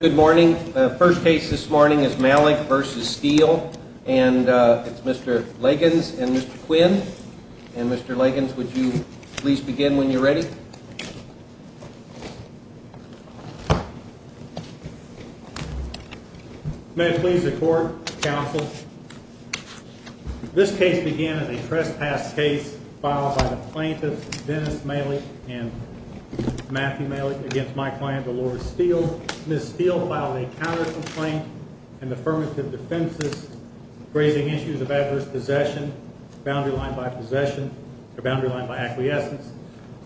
Good morning. The first case this morning is Malich v. Steele, and it's Mr. Liggins and Mr. Quinn. And Mr. Liggins, would you please begin when you're ready? May it please the court, counsel. This case began as a trespass case filed by the plaintiffs Dennis Malich and Matthew Malich against my client, Delores Steele. Both Ms. Steele filed a counter-complaint and affirmative defense, raising issues of adverse possession, boundary line by acquiescence,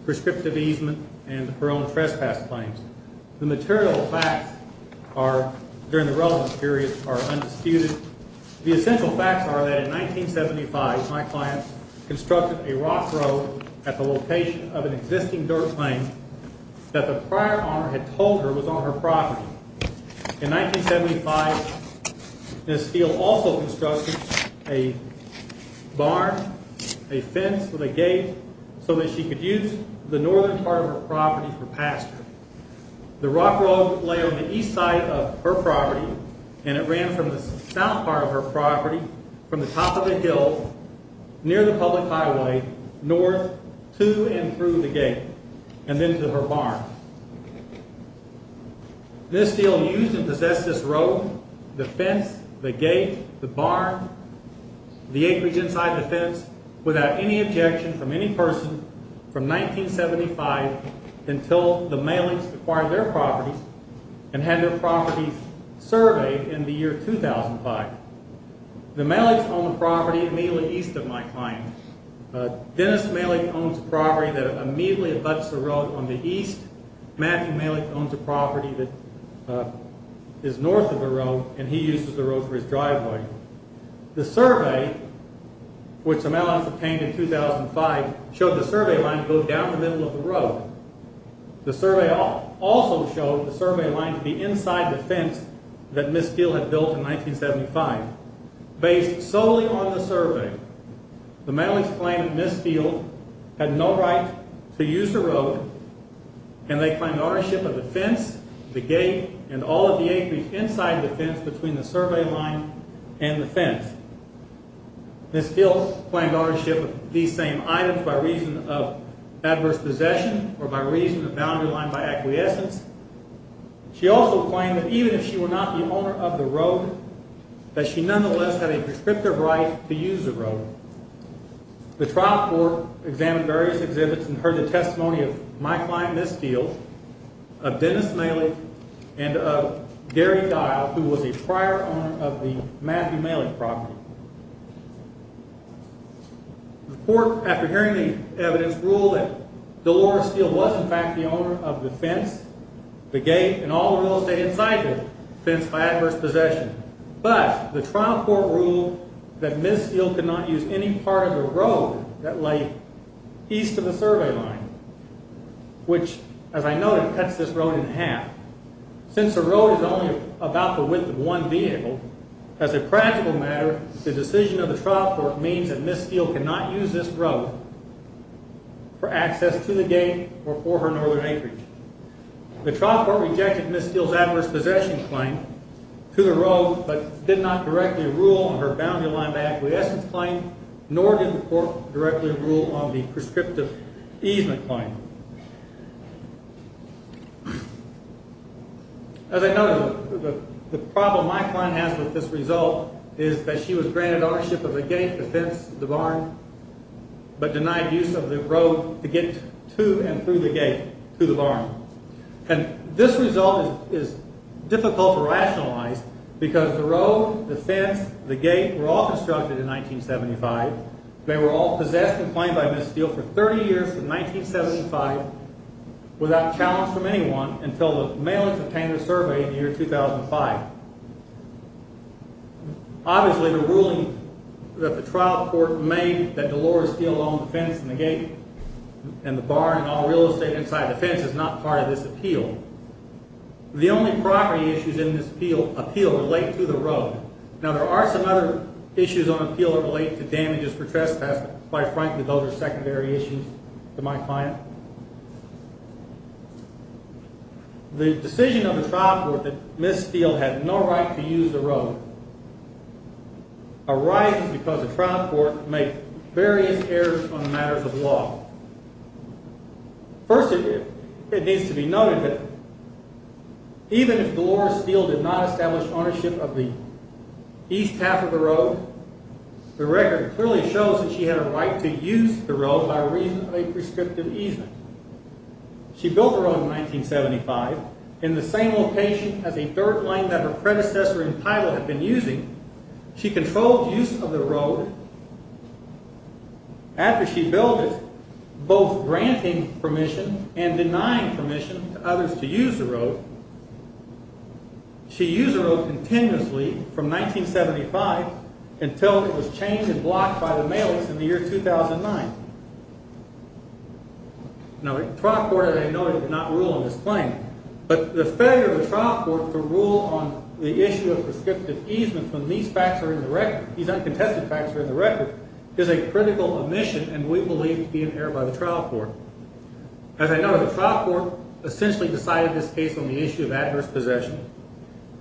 prescriptive easement, and her own trespass claims. The material facts during the relevant period are undisputed. The essential facts are that in 1975, my client constructed a rock road at the location of an existing dirt lane that the prior owner had told her was on her property. In 1975, Ms. Steele also constructed a barn, a fence with a gate, so that she could use the northern part of her property for pasture. The rock road lay on the east side of her property, and it ran from the south part of her property, from the top of the hill, near the public highway, north, to and through the gate, and then to her barn. Ms. Steele used and possessed this road, the fence, the gate, the barn, the acreage inside the fence, without any objection from any person, from 1975 until the Malich's acquired their property and had their property surveyed in the year 2005. The Malich's owned the property immediately east of my client. Dennis Malich owns a property that immediately abuts the road on the east. Matthew Malich owns a property that is north of the road, and he uses the road for his driveway. The survey, which the Malich's obtained in 2005, showed the survey line to go down the middle of the road. The survey also showed the survey line to be inside the fence that Ms. Steele had built in 1975. Based solely on the survey, the Malich's claimed that Ms. Steele had no right to use the road, and they claimed ownership of the fence, the gate, and all of the acreage inside the fence between the survey line and the fence. Ms. Steele claimed ownership of these same items by reason of adverse possession or by reason of boundary line by acquiescence. She also claimed that even if she were not the owner of the road, that she nonetheless had a prescriptive right to use the road. The trial court examined various exhibits and heard the testimony of my client Ms. Steele, of Dennis Malich, and of Gary Dial, who was a prior owner of the Matthew Malich property. The court, after hearing the evidence, ruled that Dolores Steele was in fact the owner of the fence, the gate, and all the real estate inside the fence by adverse possession. But, the trial court ruled that Ms. Steele could not use any part of the road that lay east of the survey line, which, as I noted, cuts this road in half. Since the road is only about the width of one vehicle, as a practical matter, the decision of the trial court means that Ms. Steele cannot use this road for access to the gate or for her northern acreage. The trial court rejected Ms. Steele's adverse possession claim to the road, but did not directly rule on her boundary line by acquiescence claim, nor did the court directly rule on the prescriptive easement claim. As I noted, the problem my client has with this result is that she was granted ownership of the gate, the fence, the barn, but denied use of the road to get to and through the gate to the barn. This result is difficult to rationalize because the road, the fence, the gate were all constructed in 1975. They were all possessed and claimed by Ms. Steele for 30 years from 1975 without challenge from anyone until the mailings obtained in the survey in the year 2005. Obviously, the ruling that the trial court made that Delores Steele owned the fence and the gate and the barn and all real estate inside the fence is not part of this appeal. The only property issues in this appeal relate to the road. Now, there are some other issues on appeal that relate to damages for trespass, but quite frankly, those are secondary issues to my client. The decision of the trial court that Ms. Steele had no right to use the road arises because the trial court made various errors on matters of law. First, it needs to be noted that even if Delores Steele did not establish ownership of the east half of the road, the record clearly shows that she had a right to use the road by reason of a prescriptive easement. She built the road in 1975 in the same location as a third lane that her predecessor in title had been using. She controlled use of the road after she built it, both granting permission and denying permission to others to use the road. She used the road continuously from 1975 until it was changed and blocked by the mailings in the year 2009. Now, the trial court, as I noted, did not rule on this claim. But the failure of the trial court to rule on the issue of prescriptive easement when these facts are in the record, these uncontested facts are in the record, is a critical omission and we believe to be an error by the trial court. As I noted, the trial court essentially decided this case on the issue of adverse possession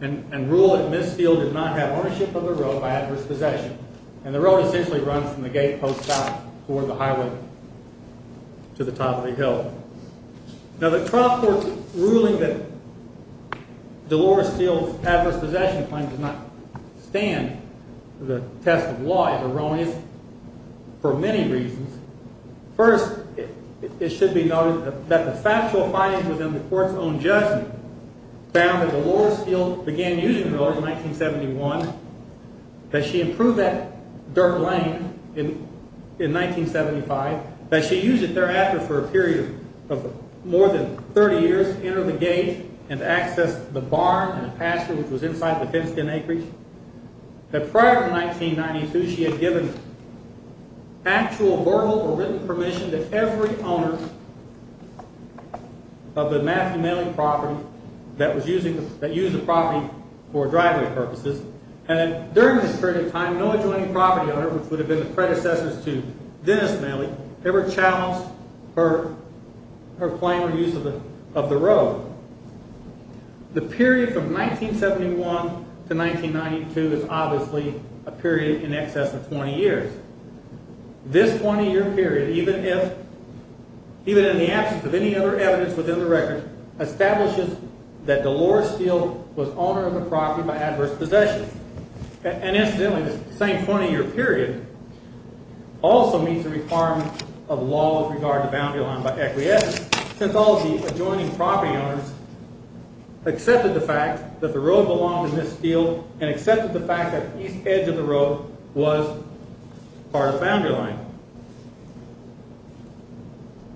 and ruled that Ms. Steele did not have ownership of the road by adverse possession. And the road essentially runs from the gate post south toward the highway to the top of the hill. Now, the trial court's ruling that Delores Steele's adverse possession claim does not stand the test of law is erroneous for many reasons. First, it should be noted that the factual findings within the court's own judgment found that Delores Steele began using the road in 1971, that she improved that dirt lane in 1975, that she used it thereafter for a period of more than 30 years, entered the gate and accessed the barn and pasture which was inside the fenced-in acreage. Prior to 1992, she had given actual, verbal, or written permission to every owner of the Matthew Mailey property that used the property for driveway purposes and during this period of time, no adjoining property owner, which would have been the predecessors to Dennis Mailey, ever challenged her claim or use of the road. So, the period from 1971 to 1992 is obviously a period in excess of 20 years. This 20-year period, even in the absence of any other evidence within the record, establishes that Delores Steele was owner of the property by adverse possession. And incidentally, this same 20-year period also meets the requirement of law with regard to boundary line by acquiescence. Since all the adjoining property owners accepted the fact that the road belonged to Miss Steele and accepted the fact that the east edge of the road was part of the boundary line.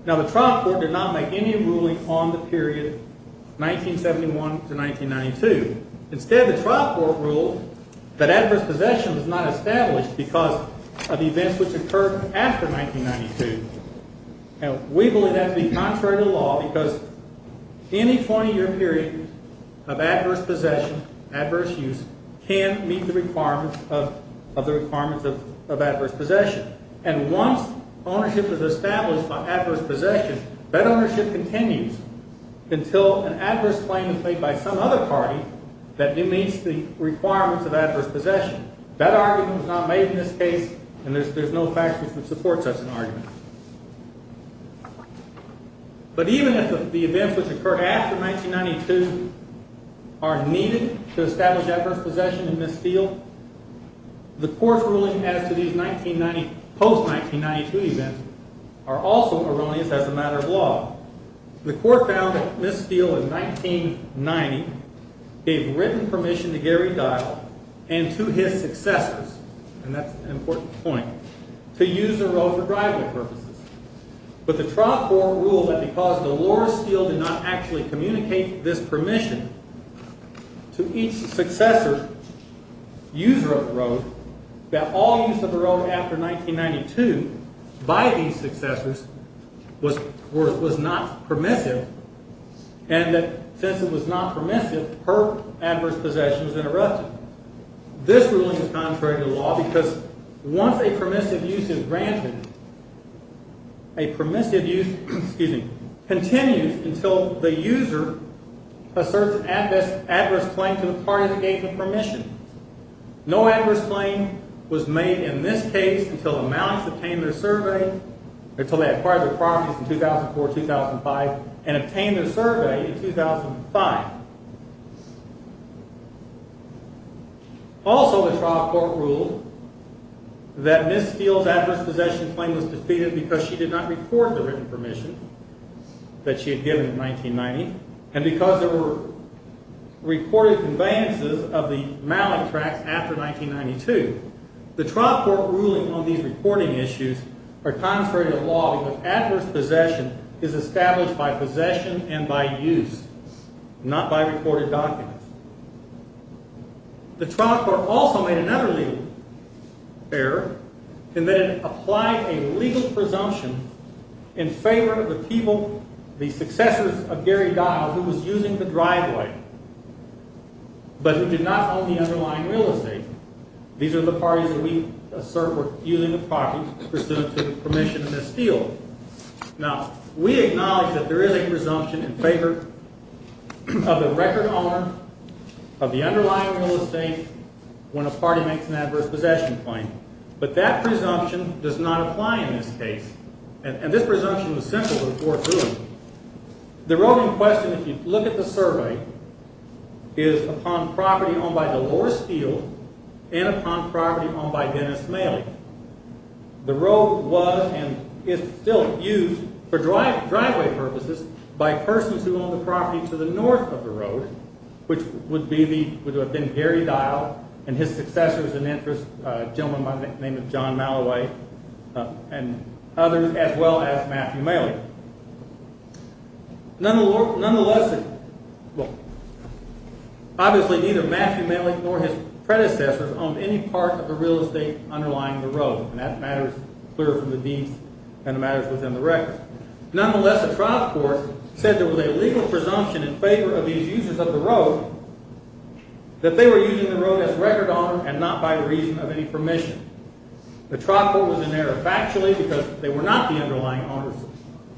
Now, the trial court did not make any ruling on the period 1971 to 1992. Instead, the trial court ruled that adverse possession was not established because of events which occurred after 1992. Now, we believe that to be contrary to law because any 20-year period of adverse possession, adverse use, can't meet the requirements of adverse possession. And once ownership is established by adverse possession, that ownership continues until an adverse claim is made by some other party that meets the requirements of adverse possession. That argument was not made in this case, and there's no fact which would support such an argument. But even if the events which occurred after 1992 are needed to establish adverse possession in Miss Steele, the court's ruling as to these post-1992 events are also erroneous as a matter of law. The court found that Miss Steele in 1990 gave written permission to Gary Dial and to his successors, and that's an important point, to use the road for driving purposes. But the trial court ruled that because Dolores Steele did not actually communicate this permission to each successor user of the road, that all use of the road after 1992 by these successors was not permissive, and that since it was not permissive, her adverse possession was interrupted. This ruling is contrary to law because once a permissive use is granted, a permissive use continues until the user asserts an adverse claim to the party that gave the permission. No adverse claim was made in this case until the Mounts obtained their survey, until they acquired their properties in 2004-2005, and obtained their survey in 2005. Also, the trial court ruled that Miss Steele's adverse possession claim was defeated because she did not record the written permission that she had given in 1990, and because there were recorded conveyances of the Mallet tracts after 1992. The trial court ruling on these reporting issues are contrary to law because adverse possession is established by possession and by use, not by recorded documents. The trial court also made another legal error in that it applied a legal presumption in favor of the people, the successors of Gary Dial, who was using the driveway, but who did not own the underlying real estate. These are the parties that we assert were using the property pursuant to the permission of Miss Steele. Now, we acknowledge that there is a presumption in favor of the record owner of the underlying real estate when a party makes an adverse possession claim, but that presumption does not apply in this case. And this presumption was simple to report through. The road in question, if you look at the survey, is upon property owned by Delores Steele and upon property owned by Dennis Mallet. The road was and is still used, for driveway purposes, by persons who owned the property to the north of the road, which would have been Gary Dial and his successors and interests, a gentleman by the name of John Malloway and others, as well as Matthew Malick. Nonetheless, obviously neither Matthew Malick nor his predecessors owned any part of the real estate underlying the road. And that matter is clear from the deeds and the matters within the record. Nonetheless, the trial court said there was a legal presumption in favor of these users of the road that they were using the road as record owner and not by reason of any permission. The trial court was in error factually because they were not the underlying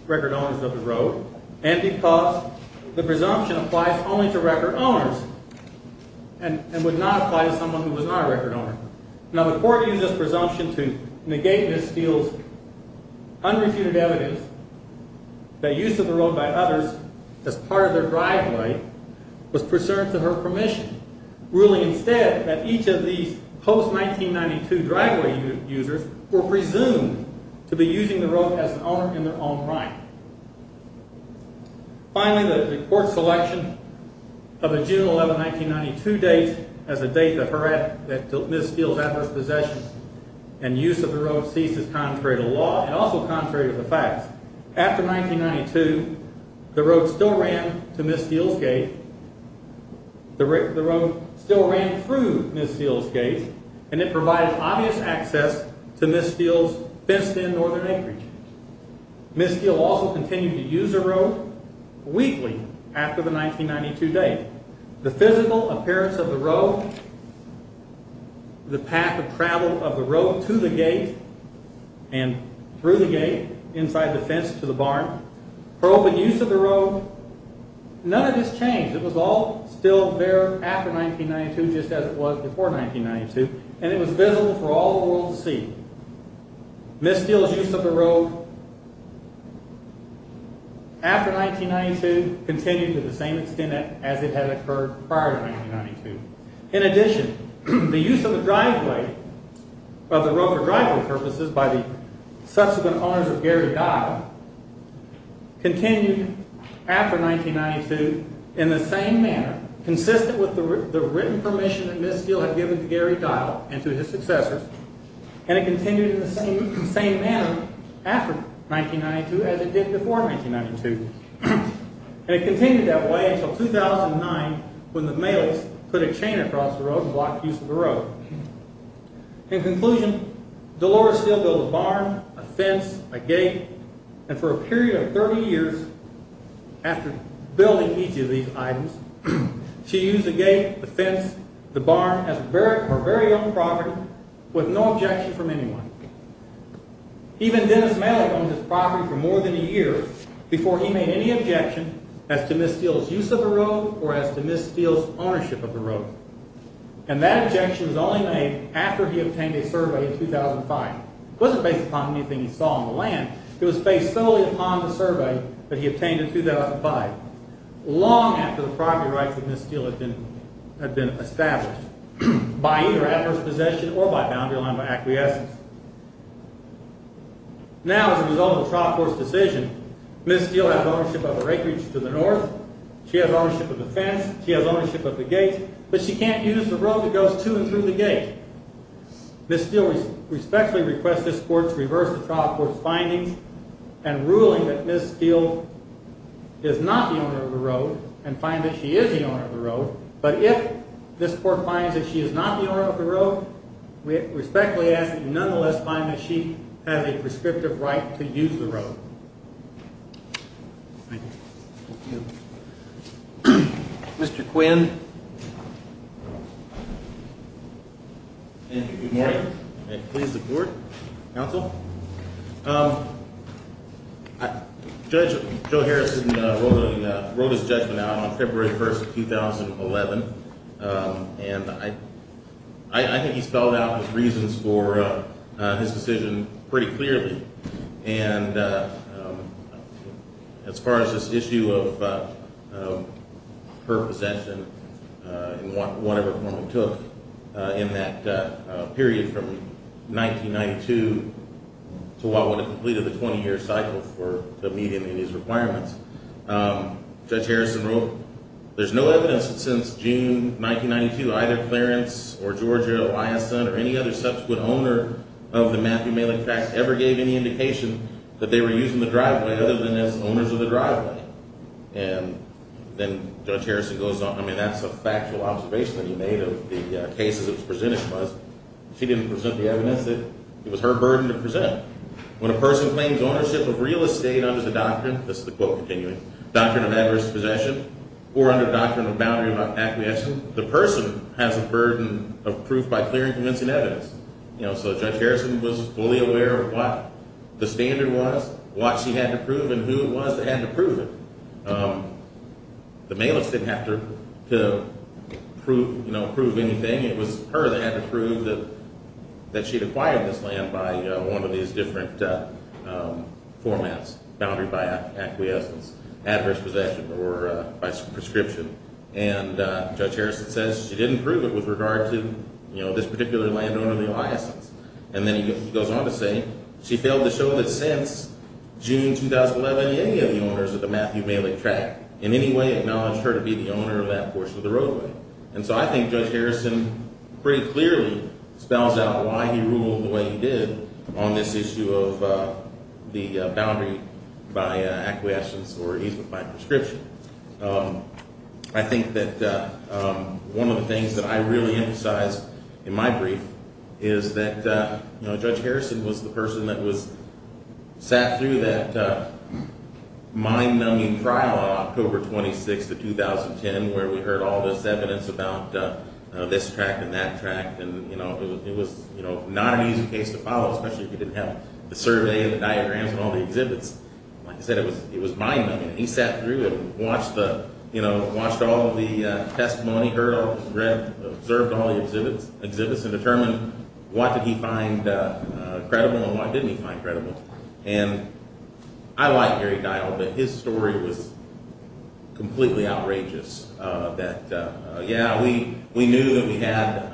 record owners of the road and because the presumption applies only to record owners and would not apply to someone who was not a record owner. Now the court used this presumption to negate Miss Steele's unrefuted evidence that use of the road by others as part of their driveway was pursuant to her permission. Ruling instead that each of these post-1992 driveway users were presumed to be using the road as an owner in their own right. Finally, the court's selection of a June 11, 1992 date as a date that Miss Steele's adverse possessions and use of the road ceases contrary to law and also contrary to the facts. After 1992, the road still ran to Miss Steele's gate. The road still ran through Miss Steele's gate and it provided obvious access to Miss Steele's fenced-in northern acreage. Miss Steele also continued to use the road weekly after the 1992 date. The physical appearance of the road, the path of travel of the road to the gate and through the gate, inside the fence to the barn, her open use of the road, none of this changed. It was all still there after 1992 just as it was before 1992 and it was visible for all the world to see. Miss Steele's use of the road after 1992 continued to the same extent as it had occurred prior to 1992. In addition, the use of the driveway, of the road for driveway purposes by the subsequent owners of Gary Dial continued after 1992 in the same manner consistent with the written permission that Miss Steele had given to Gary Dial and to his successors and it continued in the same manner after 1992 as it did before 1992. And it continued that way until 2009 when the Maleks put a chain across the road and blocked use of the road. In conclusion, Delores Steele built a barn, a fence, a gate and for a period of 30 years after building each of these items, she used the gate, the fence, the barn as her very own property with no objection from anyone. Even Dennis Malek owned this property for more than a year before he made any objection as to Miss Steele's use of the road or as to Miss Steele's ownership of the road. And that objection was only made after he obtained a survey in 2005. It wasn't based upon anything he saw on the land. It was based solely upon the survey that he obtained in 2005 long after the property rights of Miss Steele had been established by either adverse possession or by boundary line by acquiescence. Now, as a result of the trial court's decision, Miss Steele has ownership of her acreage to the north. She has ownership of the fence. She has ownership of the gate. But she can't use the road that goes to and through the gate. Miss Steele respectfully requests this court to reverse the trial court's findings and ruling that Miss Steele is not the owner of the road and find that she is the owner of the road But if this court finds that she is not the owner of the road, we respectfully ask that you nonetheless find that she has a prescriptive right to use the road. Thank you. Thank you. Mr. Quinn. Thank you. Good morning. May it please the board. Counsel. Judge Joe Harrison wrote his judgment out on February 1, 2011. And I think he spelled out his reasons for his decision pretty clearly. And as far as this issue of her possession and whatever form it took in that period from 1992 to what would have completed the 20-year cycle for the meeting of these requirements, Judge Harrison wrote, There's no evidence that since June 1992, either Clarence or Georgia or Eliasson or any other subsequent owner of the Matthew Malick Fax ever gave any indication that they were using the driveway other than as owners of the driveway. And then Judge Harrison goes on, That's a factual observation that he made of the cases it was presented to us. She didn't present the evidence. It was her burden to present. When a person claims ownership of real estate under the doctrine, this is the quote continuing, doctrine of adverse possession or under the doctrine of boundary of acquiescence, the person has a burden of proof by clearing convincing evidence. So Judge Harrison was fully aware of what the standard was, what she had to prove, and who it was that had to prove it. The Malicks didn't have to prove anything. It was her that had to prove that she had acquired this land by one of these different formats, boundary by acquiescence, adverse possession, or by prescription. And Judge Harrison says she didn't prove it with regard to this particular landowner, Eliasson. And then he goes on to say, She failed to show that since June 2011, any of the owners of the Matthew Malick tract in any way acknowledged her to be the owner of that portion of the roadway. And so I think Judge Harrison pretty clearly spells out why he ruled the way he did on this issue of the boundary by acquiescence or even by prescription. I think that one of the things that I really emphasize in my brief is that Judge Harrison was the person that sat through that mind-numbing trial on October 26, 2010, where we heard all this evidence about this tract and that tract. It was not an easy case to follow, especially if you didn't have the survey, the diagrams, and all the exhibits. Like I said, it was mind-numbing. He sat through it and watched all of the testimony, observed all of the exhibits, and determined what did he find credible and what didn't he find credible. And I like Gary Geil, but his story was completely outrageous. That, yeah, we knew that we had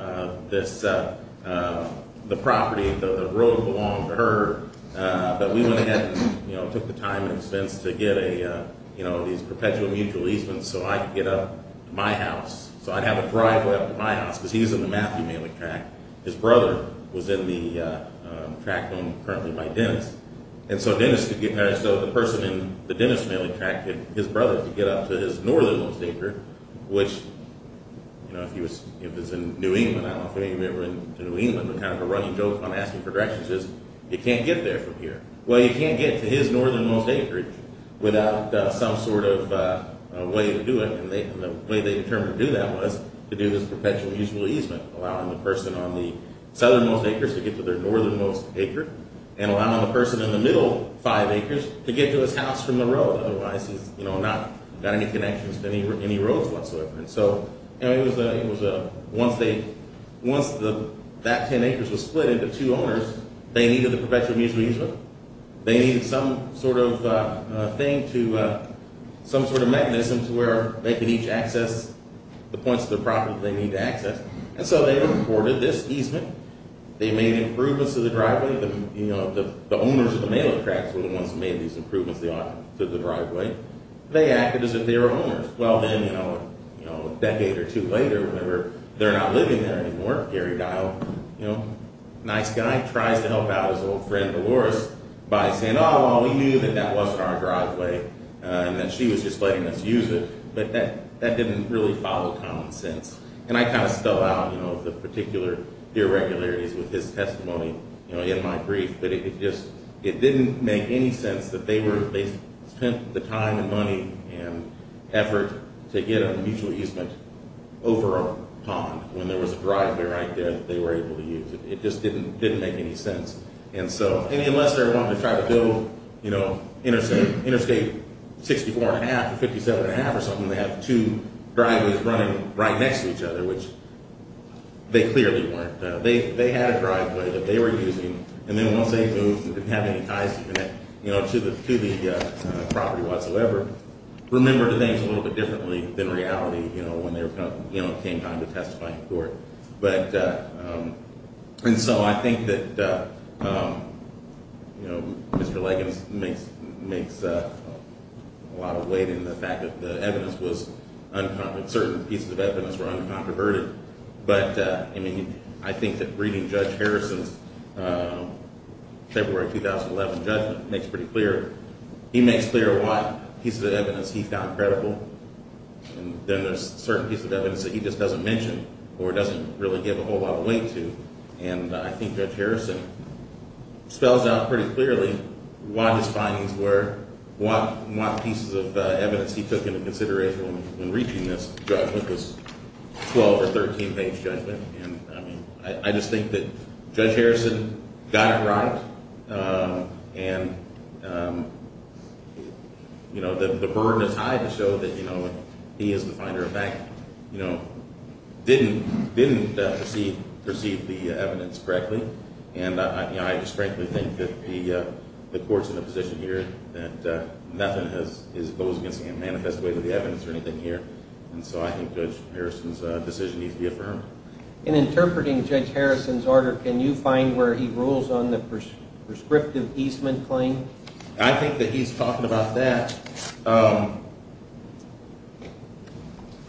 the property, the road belonged to her, but we went ahead and took the time and expense to get these perpetual mutual easements so I could get up to my house, so I'd have a driveway up to my house, because he was in the Matthew Malick tract. His brother was in the tract owned currently by Dennis. And so Dennis, the person in the Dennis Malick tract, his brother could get up to his northernmost acre, which, you know, if he was in New England, I don't know if any of you were in New England, but kind of a running joke on Asking for Directions is, you can't get there from here. Well, you can't get to his northernmost acre without some sort of way to do it. And the way they determined to do that was to do this perpetual mutual easement, allowing the person on the southernmost acres to get to their northernmost acre and allowing the person in the middle five acres to get to his house from the road. Otherwise, he's, you know, not got any connections to any roads whatsoever. And so it was a, once they, once that ten acres was split into two owners, they needed the perpetual mutual easement. They needed some sort of thing to, some sort of mechanism to where they could each access the points of the property they need to access. And so they reported this easement. They made improvements to the driveway. You know, the owners of the Malick tracts were the ones who made these improvements to the driveway. They acted as if they were owners. Well, then, you know, a decade or two later, whenever they're not living there anymore, Gary Dial, you know, nice guy, tries to help out his old friend Dolores by saying, oh, well, we knew that that wasn't our driveway and that she was just letting us use it. But that didn't really follow common sense. And I kind of spell out, you know, the particular irregularities with his testimony, you know, in my brief, but it just, it didn't make any sense that they were, they spent the time and money and effort to get a mutual easement over a pond when there was a driveway right there that they were able to use. It just didn't make any sense. And so, I mean, unless they're wanting to try to go, you know, interstate 64 and a half or 57 and a half or something, they have two driveways running right next to each other, which they clearly weren't. They had a driveway that they were using. And then once they moved and didn't have any ties to the property whatsoever, remembered things a little bit differently than reality, you know, when they came time to testify in court. But, and so I think that, you know, Mr. Leggings makes a lot of weight in the fact that the evidence was, certain pieces of evidence were uncontroverted. But, I mean, I think that reading Judge Harrison's February 2011 judgment makes pretty clear, he makes clear what pieces of evidence he found credible. And then there's certain pieces of evidence that he just doesn't mention or doesn't really give a whole lot of weight to. And I think Judge Harrison spells out pretty clearly what his findings were, what pieces of evidence he took into consideration when reaching this judgment, this 12 or 13 page judgment. And, I mean, I just think that Judge Harrison got it right. And, you know, the burden is high to show that, you know, he as the finder of fact, you know, didn't perceive the evidence correctly. And, you know, I just frankly think that the court's in a position here that nothing goes against any manifest way to the evidence or anything here. And so I think Judge Harrison's decision needs to be affirmed. In interpreting Judge Harrison's order, can you find where he rules on the prescriptive easement claim? I think that he's talking about that.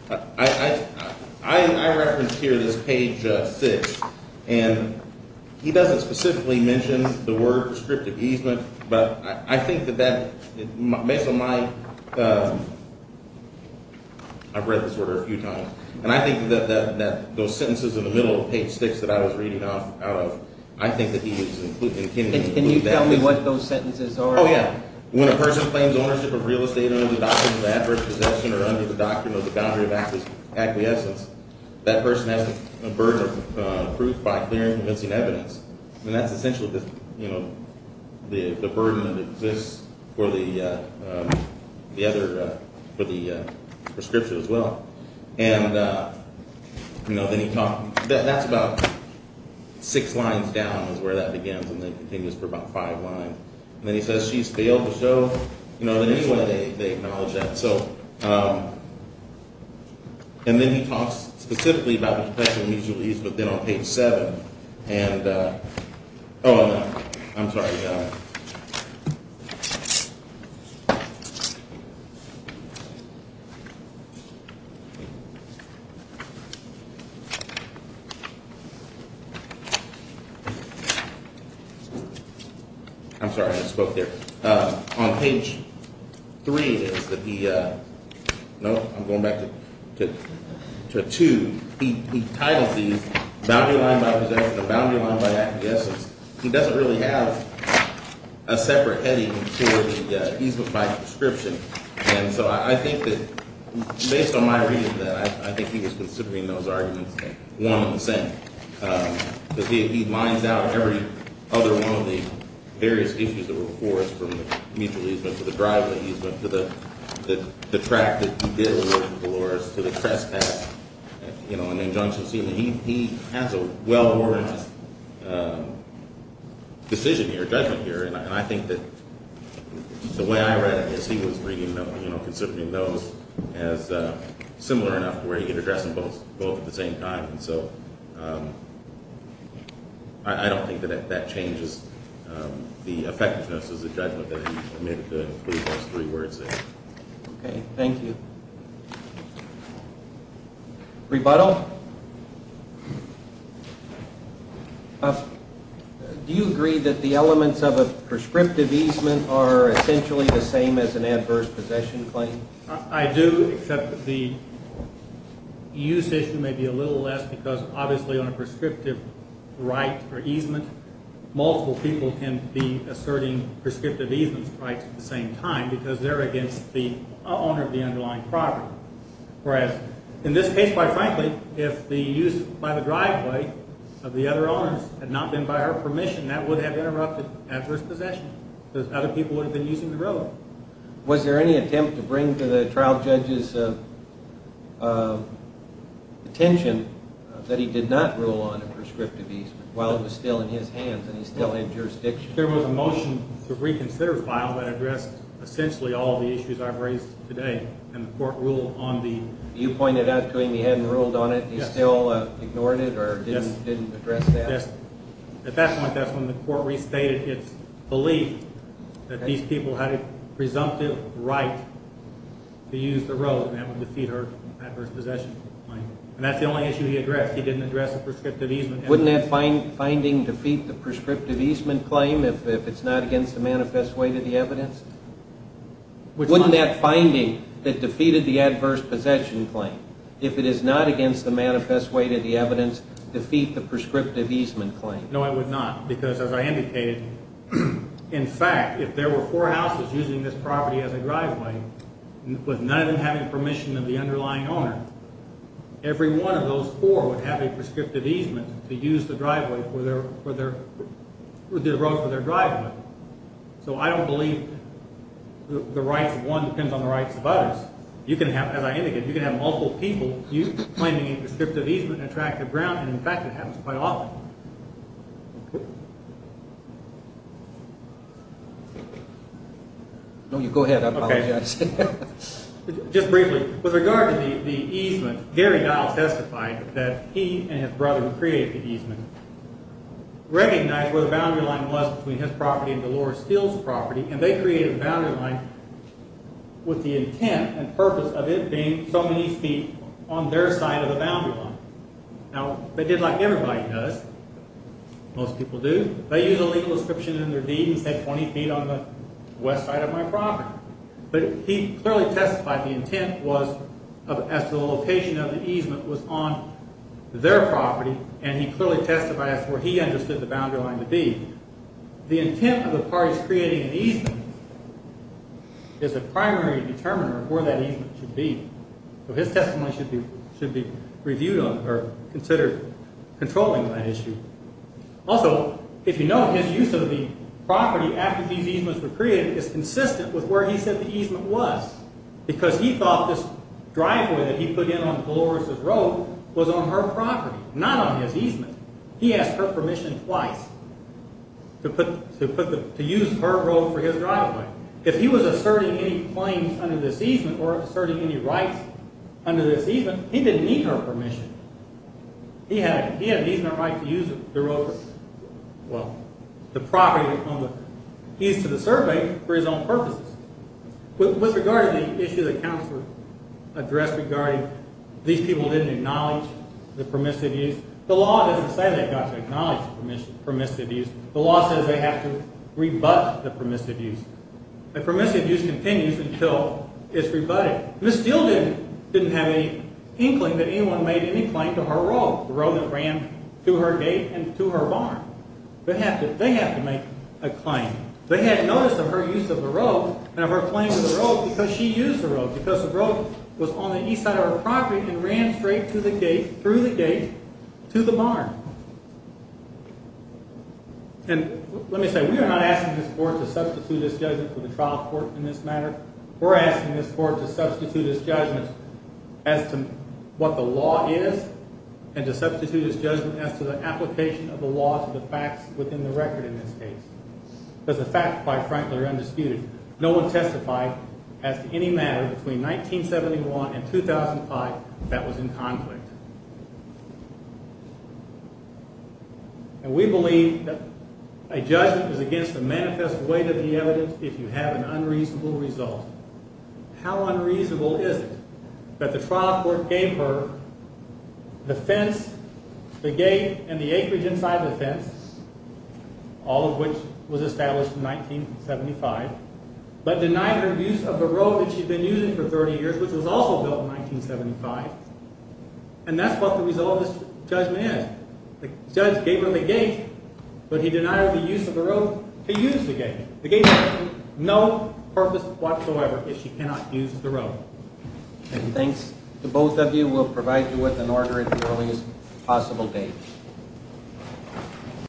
I referenced here this page 6, and he doesn't specifically mention the word prescriptive easement, but I think that that makes a lot of sense. I've read this order a few times. And I think that those sentences in the middle of page 6 that I was reading out of, I think that he is including that. Can you tell me what those sentences are? Oh, yeah. When a person claims ownership of real estate under the doctrine of adverse possession or under the doctrine of the boundary of acquiescence, that person has the burden of proof by clear and convincing evidence. And that's essentially, you know, the burden that exists for the prescription as well. And, you know, that's about six lines down is where that begins, and then continues for about five lines. And then he says, she's failed the show. You know, anyway, they acknowledge that. So, and then he talks specifically about the prescription mutual ease, but then on page 7, and, oh, I'm sorry. I'm sorry, I spoke there. On page 3 it is that he, no, I'm going back to 2. He titles these boundary line by possession or boundary line by acquiescence. He doesn't really have a separate heading for the easement by prescription. And so I think that, based on my reading of that, I think he was considering those arguments one and the same. But he lines out every other one of the various issues that were forced from the mutual easement to the driveway easement to the track that he did with Dolores to the trespass, you know, and the injunction scene. He has a well-organized decision here, judgment here. And I think that the way I read it is he was reading, you know, considering those as similar enough where he could address them both at the same time. And so I don't think that that changes the effectiveness of the judgment that he made with the three plus three words there. Okay, thank you. Rebuttal? Do you agree that the elements of a prescriptive easement are essentially the same as an adverse possession claim? I do, except that the use issue may be a little less because obviously on a prescriptive right or easement, multiple people can be asserting prescriptive easement rights at the same time because they're against the owner of the underlying property. Whereas in this case, quite frankly, if the use by the driveway of the other owners had not been by our permission, that would have interrupted adverse possession because other people would have been using the road. Was there any attempt to bring to the trial judge's attention that he did not rule on a prescriptive easement while it was still in his hands and he still had jurisdiction? There was a motion to reconsider the file that addressed essentially all of the issues I've raised today and the court ruled on the... You pointed out to him he hadn't ruled on it? Yes. He still ignored it or didn't address that? Yes. At that point, that's when the court restated its belief that these people had a presumptive right to use the road and that would defeat our adverse possession claim. And that's the only issue he addressed. He didn't address the prescriptive easement. Wouldn't that finding defeat the prescriptive easement claim if it's not against the manifest way to the evidence? Which one? If it is not against the manifest way to the evidence, defeat the prescriptive easement claim. No, I would not because, as I indicated, in fact, if there were 4 houses using this property as a driveway with none of them having permission of the underlying owner, every one of those 4 would have a prescriptive easement to use the road for their driveway. So I don't believe the rights of one depends on the rights of others. As I indicated, you can have multiple people claiming a prescriptive easement on an attractive ground and, in fact, it happens quite often. No, you go ahead. I apologize. Just briefly, with regard to the easement, Gary Dial testified that he and his brother who created the easement recognized where the boundary line was between his property and Delores Steel's property and they created a boundary line with the intent and purpose of it being so many feet on their side of the boundary line. Now, they did like everybody does. Most people do. They use a legal description in their deed and say 20 feet on the west side of my property. But he clearly testified the intent was as to the location of the easement was on their property and he clearly testified as to where he understood the boundary line to be. The intent of the parties creating an easement is a primary determiner of where that easement should be. So his testimony should be reviewed or considered controlling that issue. Also, if you note, his use of the property after these easements were created is consistent with where he said the easement was because he thought this driveway that he put in on Delores' road was on her property, not on his easement. He asked her permission twice to use her road for his driveway. If he was asserting any claims under this easement or asserting any rights under this easement, he didn't need her permission. He had an easement right to use the road or, well, the property. He's to the survey for his own purposes. With regard to the issue the counselor addressed regarding these people didn't acknowledge the permissive use, the law doesn't say they've got to acknowledge the permissive use. The law says they have to rebut the permissive use. The permissive use continues until it's rebutted. Ms. Steele didn't have any inkling that anyone made any claim to her road, the road that ran to her gate and to her barn. They have to make a claim. They had notice of her use of the road and of her claim to the road because she used the road, because the road was on the east side of her property and ran straight through the gate to the barn. And let me say, we are not asking this Court to substitute this judgment for the trial court in this matter. We're asking this Court to substitute this judgment as to what the law is and to substitute this judgment as to the application of the laws of the facts within the record in this case. Because the facts, quite frankly, are undisputed. No one testified as to any matter between 1971 and 2005 that was in conflict. And we believe that a judgment is against the manifest weight of the evidence if you have an unreasonable result. How unreasonable is it that the trial court gave her the fence, the gate, and the acreage inside the fence, all of which was established in 1975, but denied her use of the road that she'd been using for 30 years, which was also built in 1975. And that's what the result of this judgment is. The judge gave her the gate, but he denied her the use of the road to use the gate. The gate has no purpose whatsoever if she cannot use the road. And thanks to both of you. We'll provide you with an order at the earliest possible date.